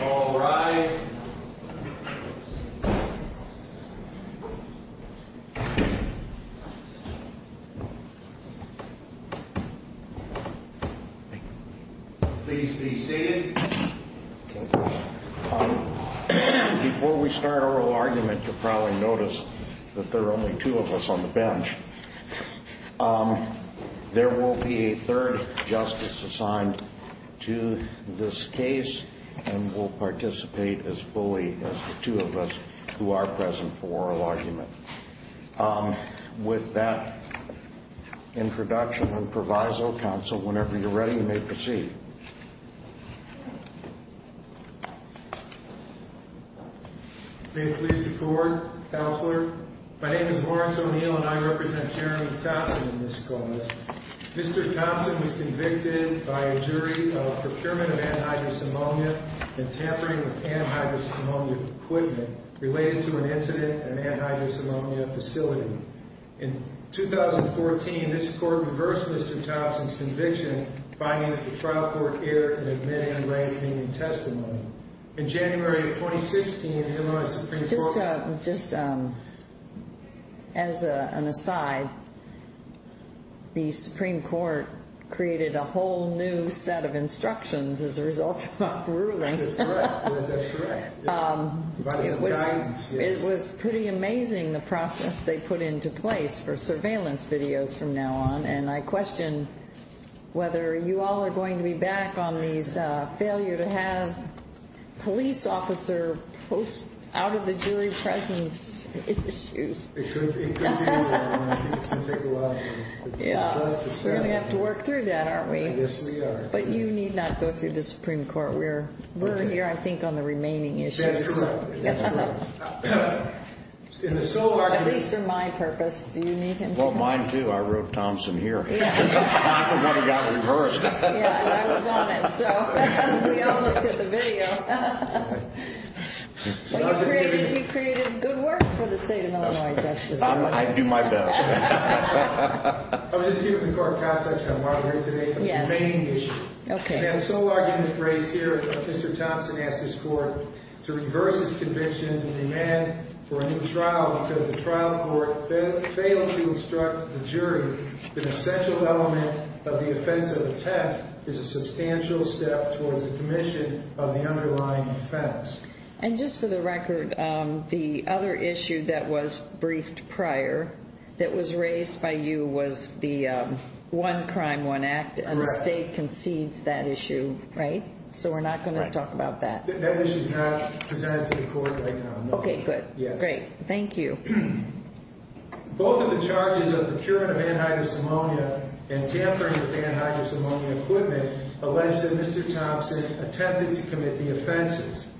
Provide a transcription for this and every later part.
All rise, please be seated. Before we start our argument, you'll probably notice that there are only two of us on the bench. There will be a third justice assigned to this case and will participate as fully as the two of us who are present for oral argument. With that introduction and proviso, counsel, whenever you're ready, you may proceed. May it please the court, counselor. My name is Lawrence O'Neill and I represent Jeremy Thompson in this cause. Mr. Thompson was convicted by a jury of procurement of antihydrosomomia and tampering with antihydrosomomia equipment related to an incident at an antihydrosomomia facility. In 2014, this court reversed Mr. Thompson's conviction, finding that the trial court error could have been inlayed in the testimony. In January of 2016, Illinois Supreme Court... Just as an aside, the Supreme Court created a whole new set of instructions as a result of our ruling. That's correct. It was pretty amazing the process they put into place for surveillance videos from now on. And I question whether you all are going to be back on these failure to have police officer posts out of the jury presence issues. It could be. It's going to take a while. We're going to have to work through that, aren't we? Yes, we are. But you need not go through the Supreme Court. We're here, I think, on the remaining issues. That is correct. At least for my purpose, do you need him to come through? Well, mine too. I wrote Thompson here. I'm the one who got reversed. Yeah, and I was on it, so we all looked at the video. He created good work for the state of Illinois, Justice O'Neill. I do my best. I was just given the court context I'm moderating today on the remaining issues. The sole argument raised here is that Mr. Thompson asked his court to reverse his convictions and demand for a new trial because the trial court failed to instruct the jury that an essential element of the offense of a theft is a substantial step towards the commission of the underlying offense. And just for the record, the other issue that was briefed prior that was raised by you was the One Crime, One Act, and the state concedes that issue, right? So we're not going to talk about that. That issue is not presented to the court right now, no. Okay, good. Great. Thank you. Both of the charges of procurement of anhydrous ammonia and tampering with anhydrous ammonia equipment allege that Mr. Thompson attempted to commit the offenses.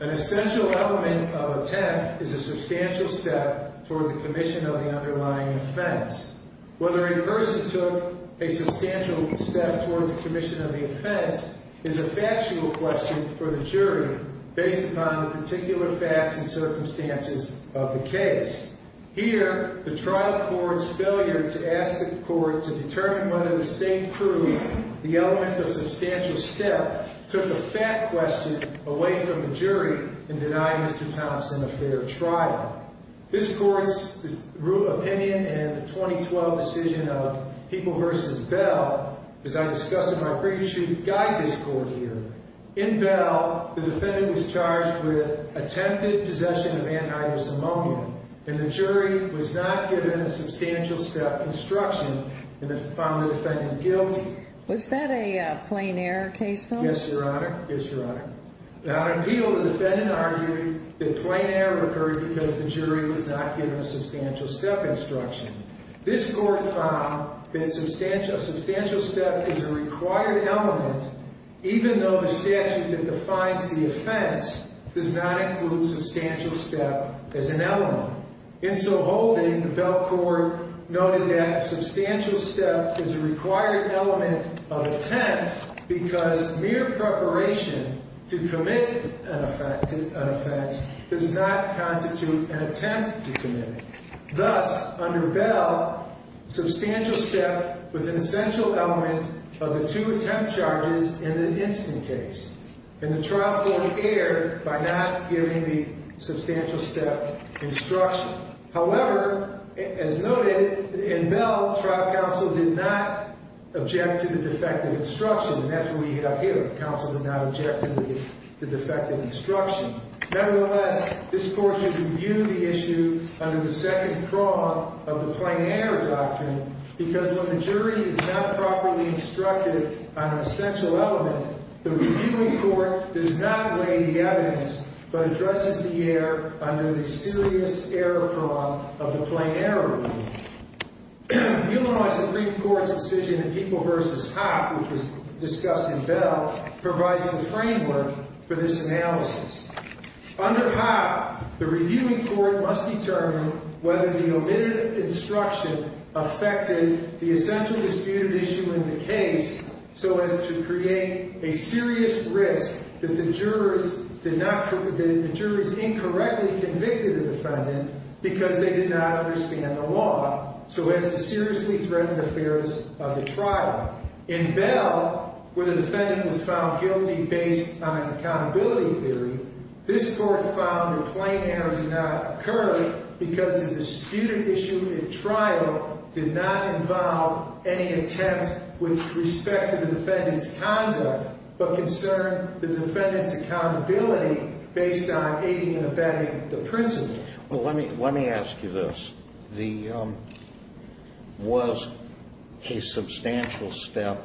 An essential element of a theft is a substantial step toward the commission of the underlying offense. Whether a person took a substantial step towards the commission of the offense is a factual question for the jury based upon the particular facts and circumstances of the case. Here, the trial court's failure to ask the court to determine whether the state proved the element of substantial step took a fact question away from the jury in denying Mr. Thompson a fair trial. This court's opinion in the 2012 decision of People v. Bell, as I discuss in my brief shoot-and-guide this court here, in Bell, the defendant was charged with attempted possession of anhydrous ammonia. And the jury was not given a substantial step instruction and found the defendant guilty. Was that a plain error case, though? Yes, Your Honor. Yes, Your Honor. Now, in Peel, the defendant argued that a plain error occurred because the jury was not given a substantial step instruction. This court found that a substantial step is a required element, even though the statute that defines the offense does not include substantial step as an element. In so holding, the Bell court noted that a substantial step is a required element of attempt because mere preparation to commit an offense does not constitute an attempt to commit it. However, as noted in Bell, trial counsel did not object to the defective instruction. And that's what we have here. Counsel did not object to the defective instruction. Nevertheless, this court should review the issue under the second prong of the plain error doctrine because when the jury is not properly instructed on an essential element, the reviewing court does not weigh the evidence but addresses the error under the serious error prong of the plain error ruling. The Illinois Supreme Court's decision in People v. Hoppe, which was discussed in Bell, provides the framework for this analysis. In Bell, where the defendant was found guilty based on an accountability theory, this court found that a plain error did not occur because the disputed issue in trial did not involve any attempt with respect to the defendant's conduct but concerned the defendant's accountability based on aiding and abetting the principle. Well, let me ask you this. Was a substantial step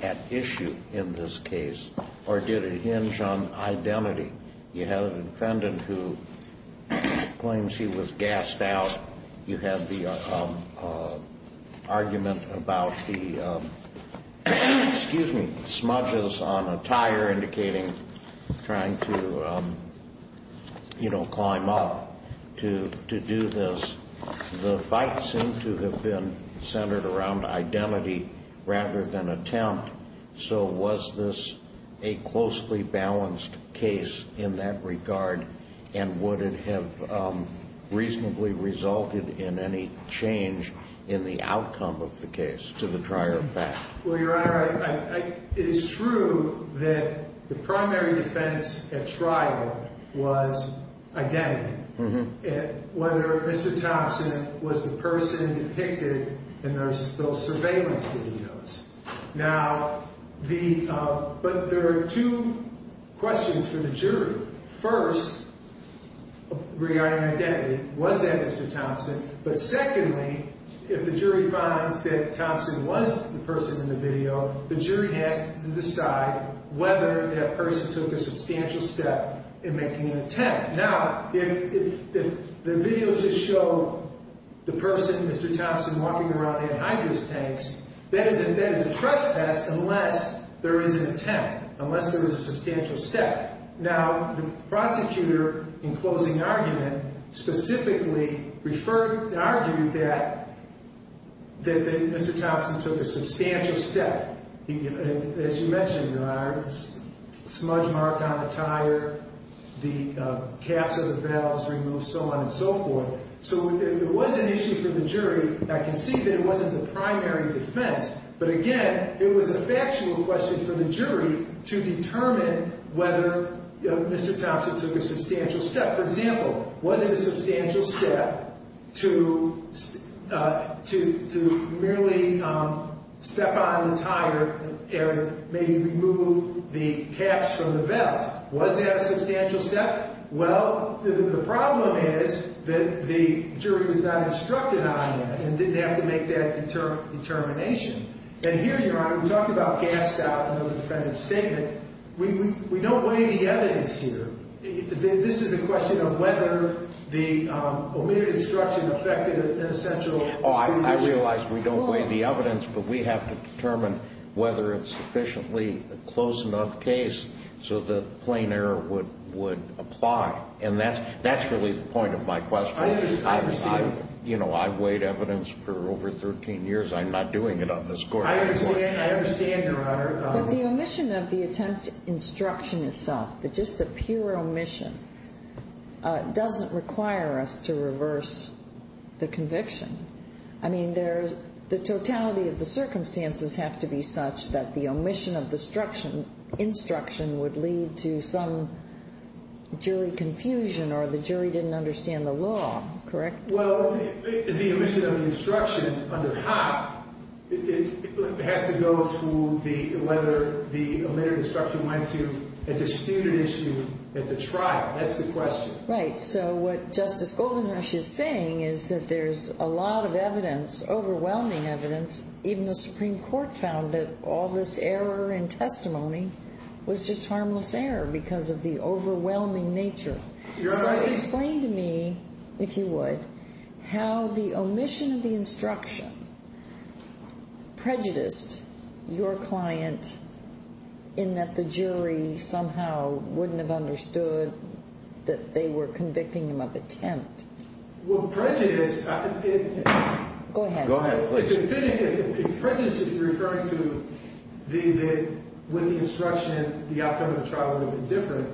at issue in this case or did it hinge on identity? You had a defendant who claims he was gassed out. You had the argument about the, excuse me, smudges on a tire indicating trying to, you know, climb up to do this. The fight seemed to have been centered around identity rather than attempt. So was this a closely balanced case in that regard and would it have reasonably resulted in any change in the outcome of the case to the prior fact? Well, Your Honor, it is true that the primary defense at trial was identity. Whether Mr. Thompson was the person depicted in those surveillance videos. Now, the, but there are two questions for the jury. First, regarding identity, was that Mr. Thompson? But secondly, if the jury finds that Thompson was the person in the video, the jury has to decide whether that person took a substantial step in making an attempt. Now, if the video just showed the person, Mr. Thompson, walking around in hydrous tanks, that is a trespass unless there is an attempt. Unless there was a substantial step. Now, the prosecutor in closing argument specifically referred, argued that Mr. Thompson took a substantial step. As you mentioned, Your Honor, smudge mark on the tire, the caps of the valves removed, so on and so forth. So it was an issue for the jury. I can see that it wasn't the primary defense. But again, it was a factual question for the jury to determine whether Mr. Thompson took a substantial step. For example, was it a substantial step to merely step on the tire and maybe remove the caps from the valves? Was that a substantial step? Well, the problem is that the jury was not instructed on that and didn't have to make that determination. And here, Your Honor, we talked about gas stop in the defendant's statement. We don't weigh the evidence here. This is a question of whether the omitted instruction affected an essential score. Oh, I realize we don't weigh the evidence, but we have to determine whether it's sufficiently a close enough case so that plain error would apply. And that's really the point of my question. I understand. You know, I've weighed evidence for over 13 years. I'm not doing it on the score. I understand, Your Honor. But the omission of the attempt instruction itself, just the pure omission, doesn't require us to reverse the conviction. I mean, the totality of the circumstances have to be such that the omission of the instruction would lead to some jury confusion or the jury didn't understand the law, correct? Well, the omission of the instruction under HOP has to go to whether the omitted instruction went to a disputed issue at the trial. That's the question. Right. So what Justice Goldenrush is saying is that there's a lot of evidence, overwhelming evidence. Even the Supreme Court found that all this error in testimony was just harmless error because of the overwhelming nature. Your Honor, I think— So explain to me, if you would, how the omission of the instruction prejudiced your client in that the jury somehow wouldn't have understood that they were convicting him of attempt. Well, prejudice— Go ahead, please. If prejudice is referring to the—with the instruction, the outcome of the trial would have been different,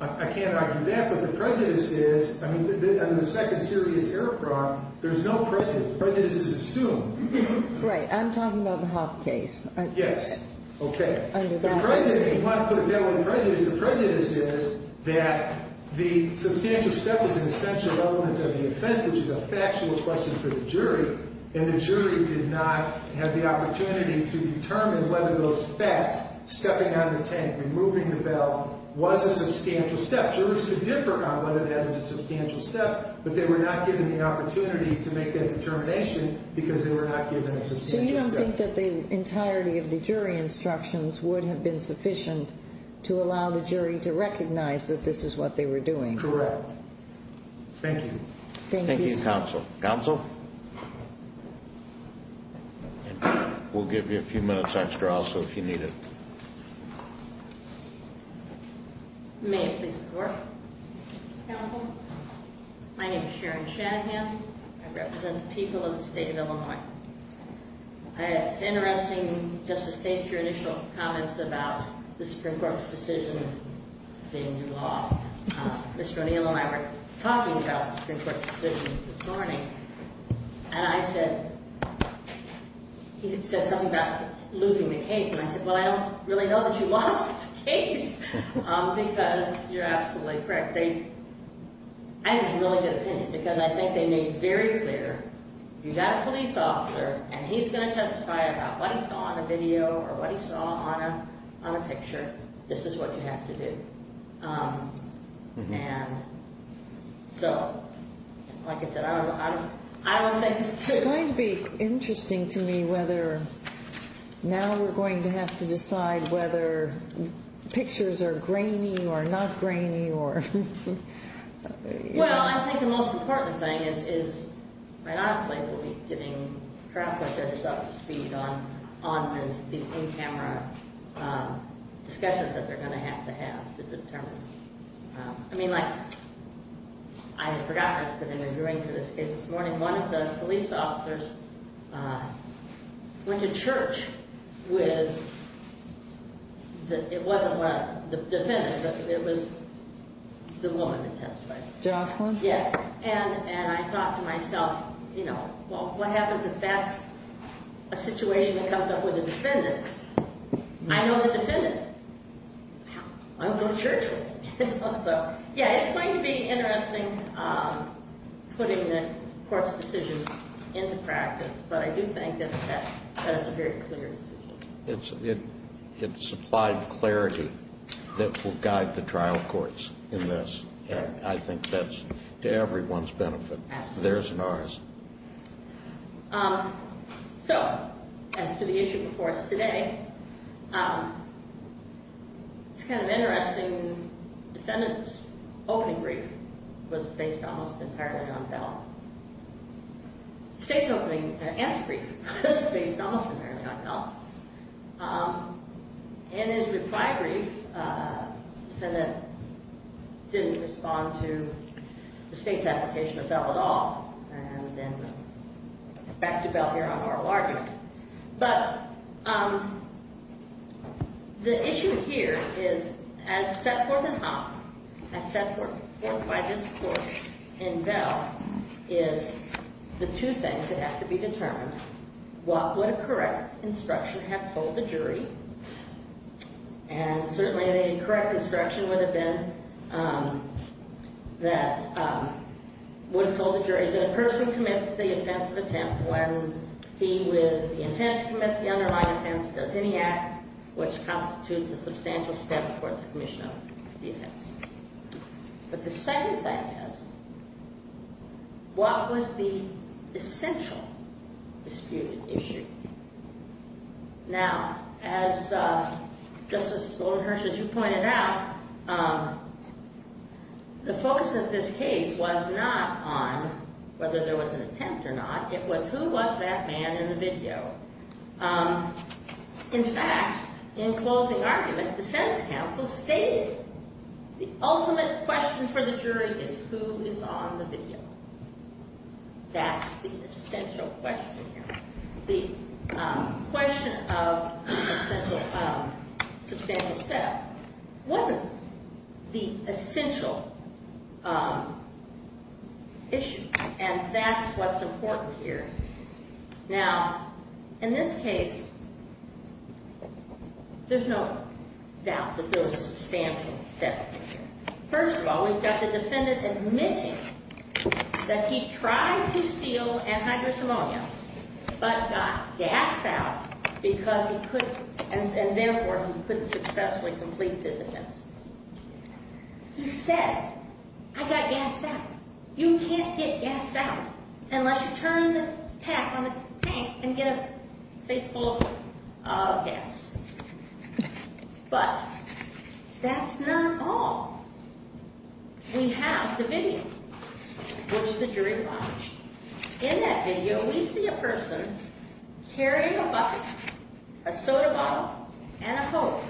I can't argue that. But the prejudice is—I mean, under the second serious error prong, there's no prejudice. Prejudice is assumed. Right. I'm talking about the HOP case. Yes. Okay. The prejudice—if you want to put it that way—the prejudice is that the substantial step is an essential element of the offense, which is a factual question for the jury. And the jury did not have the opportunity to determine whether those facts—stepping on the tank, removing the bell—was a substantial step. Jurors could differ on whether that is a substantial step, but they were not given the opportunity to make that determination because they were not given a substantial step. So you don't think that the entirety of the jury instructions would have been sufficient to allow the jury to recognize that this is what they were doing? Correct. Thank you. Thank you. Thank you, counsel. Counsel? We'll give you a few minutes extra also if you need it. May I please report? Counsel? My name is Sharon Shanahan. I represent the people of the state of Illinois. It's interesting, Justice Gates, your initial comments about the Supreme Court's decision in the law. Mr. O'Neill and I were talking about the Supreme Court decision this morning, and I said—he said something about losing the case. And I said, well, I don't really know that you lost the case because you're absolutely correct. I have a really good opinion because I think they made very clear, you've got a police officer, and he's going to testify about what he saw on a video or what he saw on a picture. This is what you have to do. And so, like I said, I don't want to say— It's going to be interesting to me whether now we're going to have to decide whether pictures are grainy or not grainy or— I mean, like, I had forgotten I was going to be interviewing for this case this morning. One of the police officers went to church with—it wasn't the defendant, but it was the woman that testified. Jocelyn? Yeah. And I thought to myself, you know, well, what happens if that's a situation that comes up with a defendant? I know the defendant. I'll go to church with him. So, yeah, it's going to be interesting putting the court's decision into practice, but I do think that it's a very clear decision. It supplied clarity that will guide the trial courts in this, and I think that's to everyone's benefit. Absolutely. Theirs and ours. So, as to the issue before us today, it's kind of interesting. The defendant's opening brief was based almost entirely on Bell. The state's opening answer brief was based almost entirely on Bell. And his reply brief, the defendant didn't respond to the state's application of Bell at all, and then back to Bell here on oral argument. But the issue here is, as set forth in Hoppe, as set forth by this court in Bell, is the two things that have to be determined. What would a correct instruction have told the jury? And certainly the correct instruction would have been that a person commits the offense of attempt when he with the intent to commit the underlying offense does any act which constitutes a substantial step towards the commission of the offense. But the second thing is, what was the essential dispute issue? Now, as Justice Goldenhirsch, as you pointed out, the focus of this case was not on whether there was an attempt or not. It was who was that man in the video. In fact, in closing argument, defense counsel stated the ultimate question for the jury is who is on the video. That's the essential question here. The question of substantial step wasn't the essential issue, and that's what's important here. Now, in this case, there's no doubt that there was substantial step. First of all, we've got the defendant admitting that he tried to steal antidepressant ammonia but got gassed out because he couldn't, and therefore he couldn't successfully complete the defense. He said, I got gassed out. You can't get gassed out unless you turn the tap on the tank and get a place full of gas. But that's not all. We have the video, which the jury watched. In that video, we see a person carrying a bucket, a soda bottle, and a hose.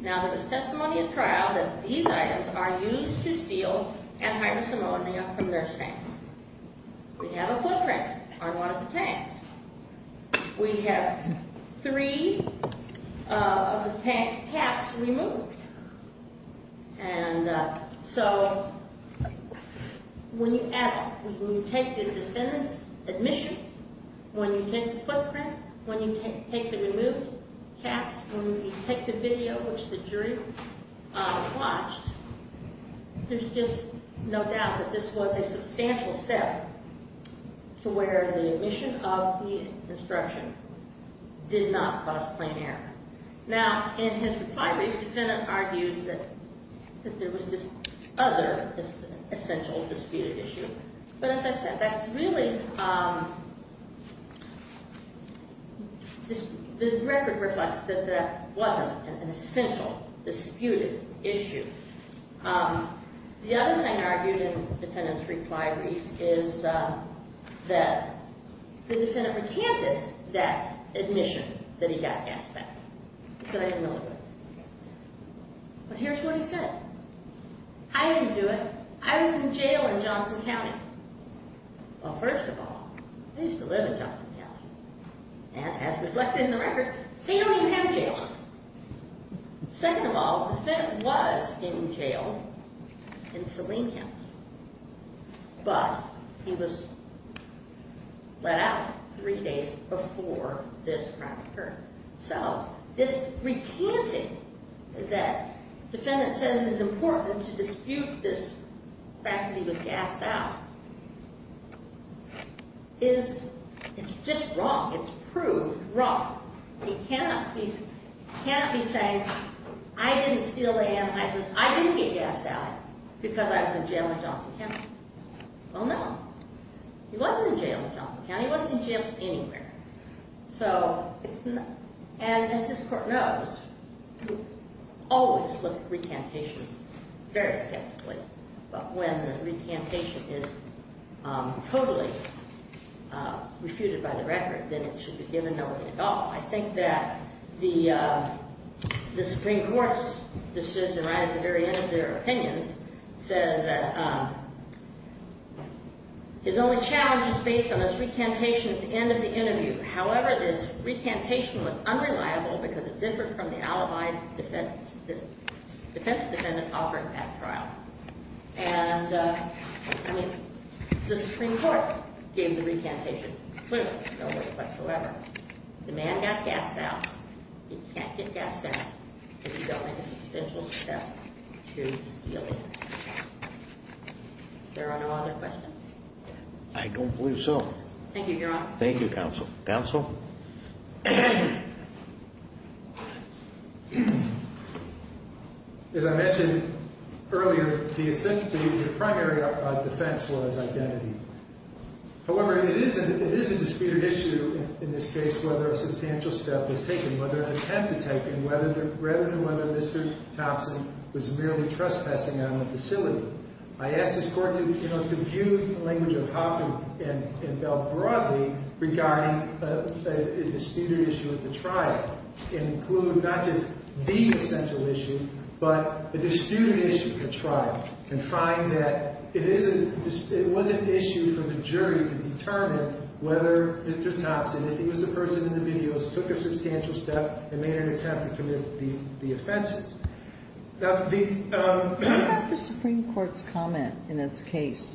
Now, there was testimony at trial that these items are used to steal antidepressant ammonia from nurse tanks. We have three of the tank caps removed. And so when you add up, when you take the defendant's admission, when you take the footprint, when you take the removed caps, when you take the video, which the jury watched, there's just no doubt that this was a substantial step to where the admission of the instruction did not cause plain error. Now, in his reply, the defendant argues that there was this other essential disputed issue. But as I said, the record reflects that that wasn't an essential disputed issue. The other thing argued in the defendant's reply brief is that the defendant recanted that admission that he got gassed out. He said, I didn't know that. But here's what he said. I didn't do it. I was in jail in Johnson County. Well, first of all, I used to live in Johnson County. And as reflected in the record, they don't even have jails. Second of all, the defendant was in jail in Saline County. But he was let out three days before this crime occurred. So this recanting that the defendant said it was important to dispute this fact that he was gassed out is just wrong. It's proved wrong. He cannot be saying, I didn't steal land. I didn't get gassed out because I was in jail in Johnson County. Well, no. He wasn't in jail in Johnson County. He wasn't in jail anywhere. And as this Court knows, you always look at recantations very skeptically. But when the recantation is totally refuted by the record, then it should be given no way at all. I think that the Supreme Court's decision right at the very end of their opinions says that his only challenge is based on this recantation at the end of the interview. However, this recantation was unreliable because it differed from the alibi the defense defendant offered at trial. And the Supreme Court gave the recantation. However, the man got gassed out. He can't get gassed out. It is only a substantial step to steal land. There are no other questions? I don't believe so. Thank you, Your Honor. Thank you, Counsel. Counsel? As I mentioned earlier, the primary defense was identity. However, it is a disputed issue in this case whether a substantial step was taken, whether an attempt was taken, rather than whether Mr. Thompson was merely trespassing on the facility. I ask this Court to view the language of Hoppe and Bell broadly regarding a disputed issue at the trial and include not just the essential issue, but the disputed issue at the trial and find that it was an issue for the jury to determine whether Mr. Thompson, if he was the person in the videos, took a substantial step and made an attempt to commit the offenses. Do you have the Supreme Court's comment in this case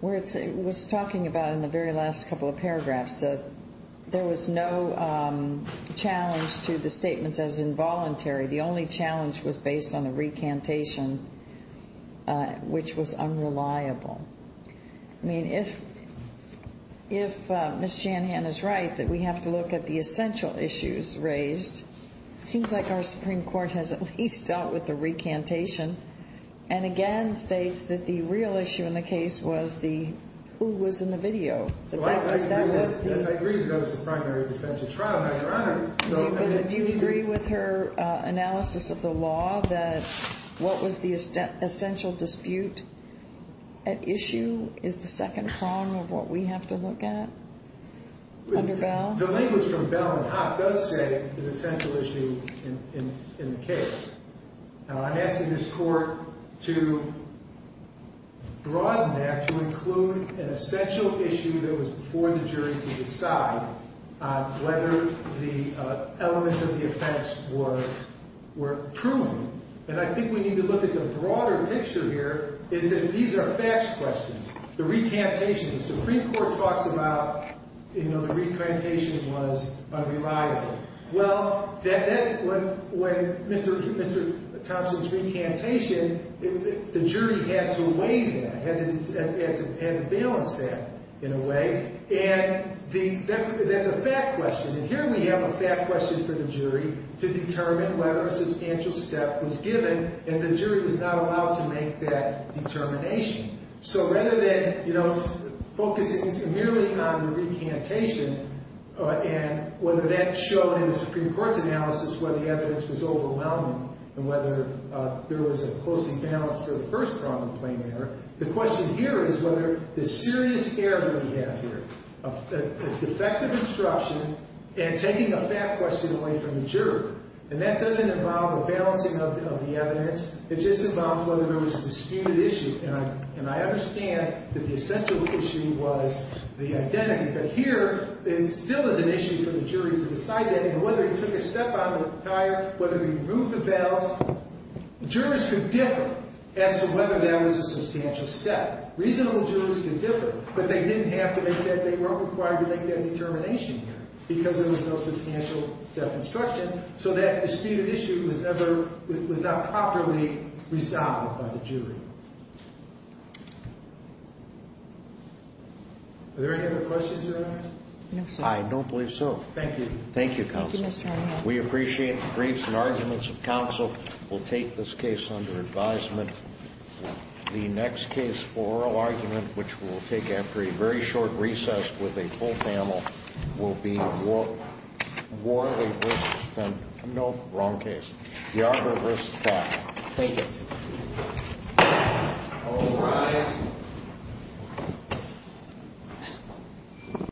where it was talking about in the very last couple of paragraphs that there was no challenge to the statements as involuntary? The only challenge was based on the recantation, which was unreliable. I mean, if Ms. Janhan is right that we have to look at the essential issues raised, it seems like our Supreme Court has at least dealt with the recantation and again states that the real issue in the case was who was in the video. I agree that that was the primary defense at trial, Your Honor. Do you agree with her analysis of the law that what was the essential dispute at issue is the second prong of what we have to look at under Bell? The language from Bell and Hopp does say an essential issue in the case. Now, I'm asking this court to broaden that to include an essential issue that was before the jury to decide whether the elements of the offense were proven. And I think we need to look at the broader picture here is that these are facts questions. The recantation, the Supreme Court talks about, you know, the recantation was unreliable. Well, when Mr. Thompson's recantation, the jury had to weigh that, had to balance that in a way, and that's a fact question. And here we have a fact question for the jury to determine whether a substantial step was given, and the jury was not allowed to make that determination. So rather than, you know, focusing merely on the recantation and whether that showed in the Supreme Court's analysis whether the evidence was overwhelming and whether there was a close imbalance for the first prong of the plain error, the question here is whether the serious error that we have here, a defective instruction and taking a fact question away from the jury. And that doesn't involve a balancing of the evidence. It just involves whether there was a disputed issue. And I understand that the essential issue was the identity. But here, it still is an issue for the jury to decide that. And whether it took a step on the tire, whether we moved the balance, jurors could differ as to whether that was a substantial step. Reasonable jurors could differ, but they didn't have to make that, they weren't required to make that determination here because there was no substantial step instruction. So that disputed issue was never, was not properly resolved by the jury. Are there any other questions, Your Honor? I don't believe so. Thank you. Thank you, counsel. We appreciate the briefs and arguments of counsel. We'll take this case under advisement. The next case for oral argument, which we'll take after a very short recess with a full panel, will be Warley v. Fenton. Nope, wrong case. Yarbrough v. Clark. Thank you. All rise.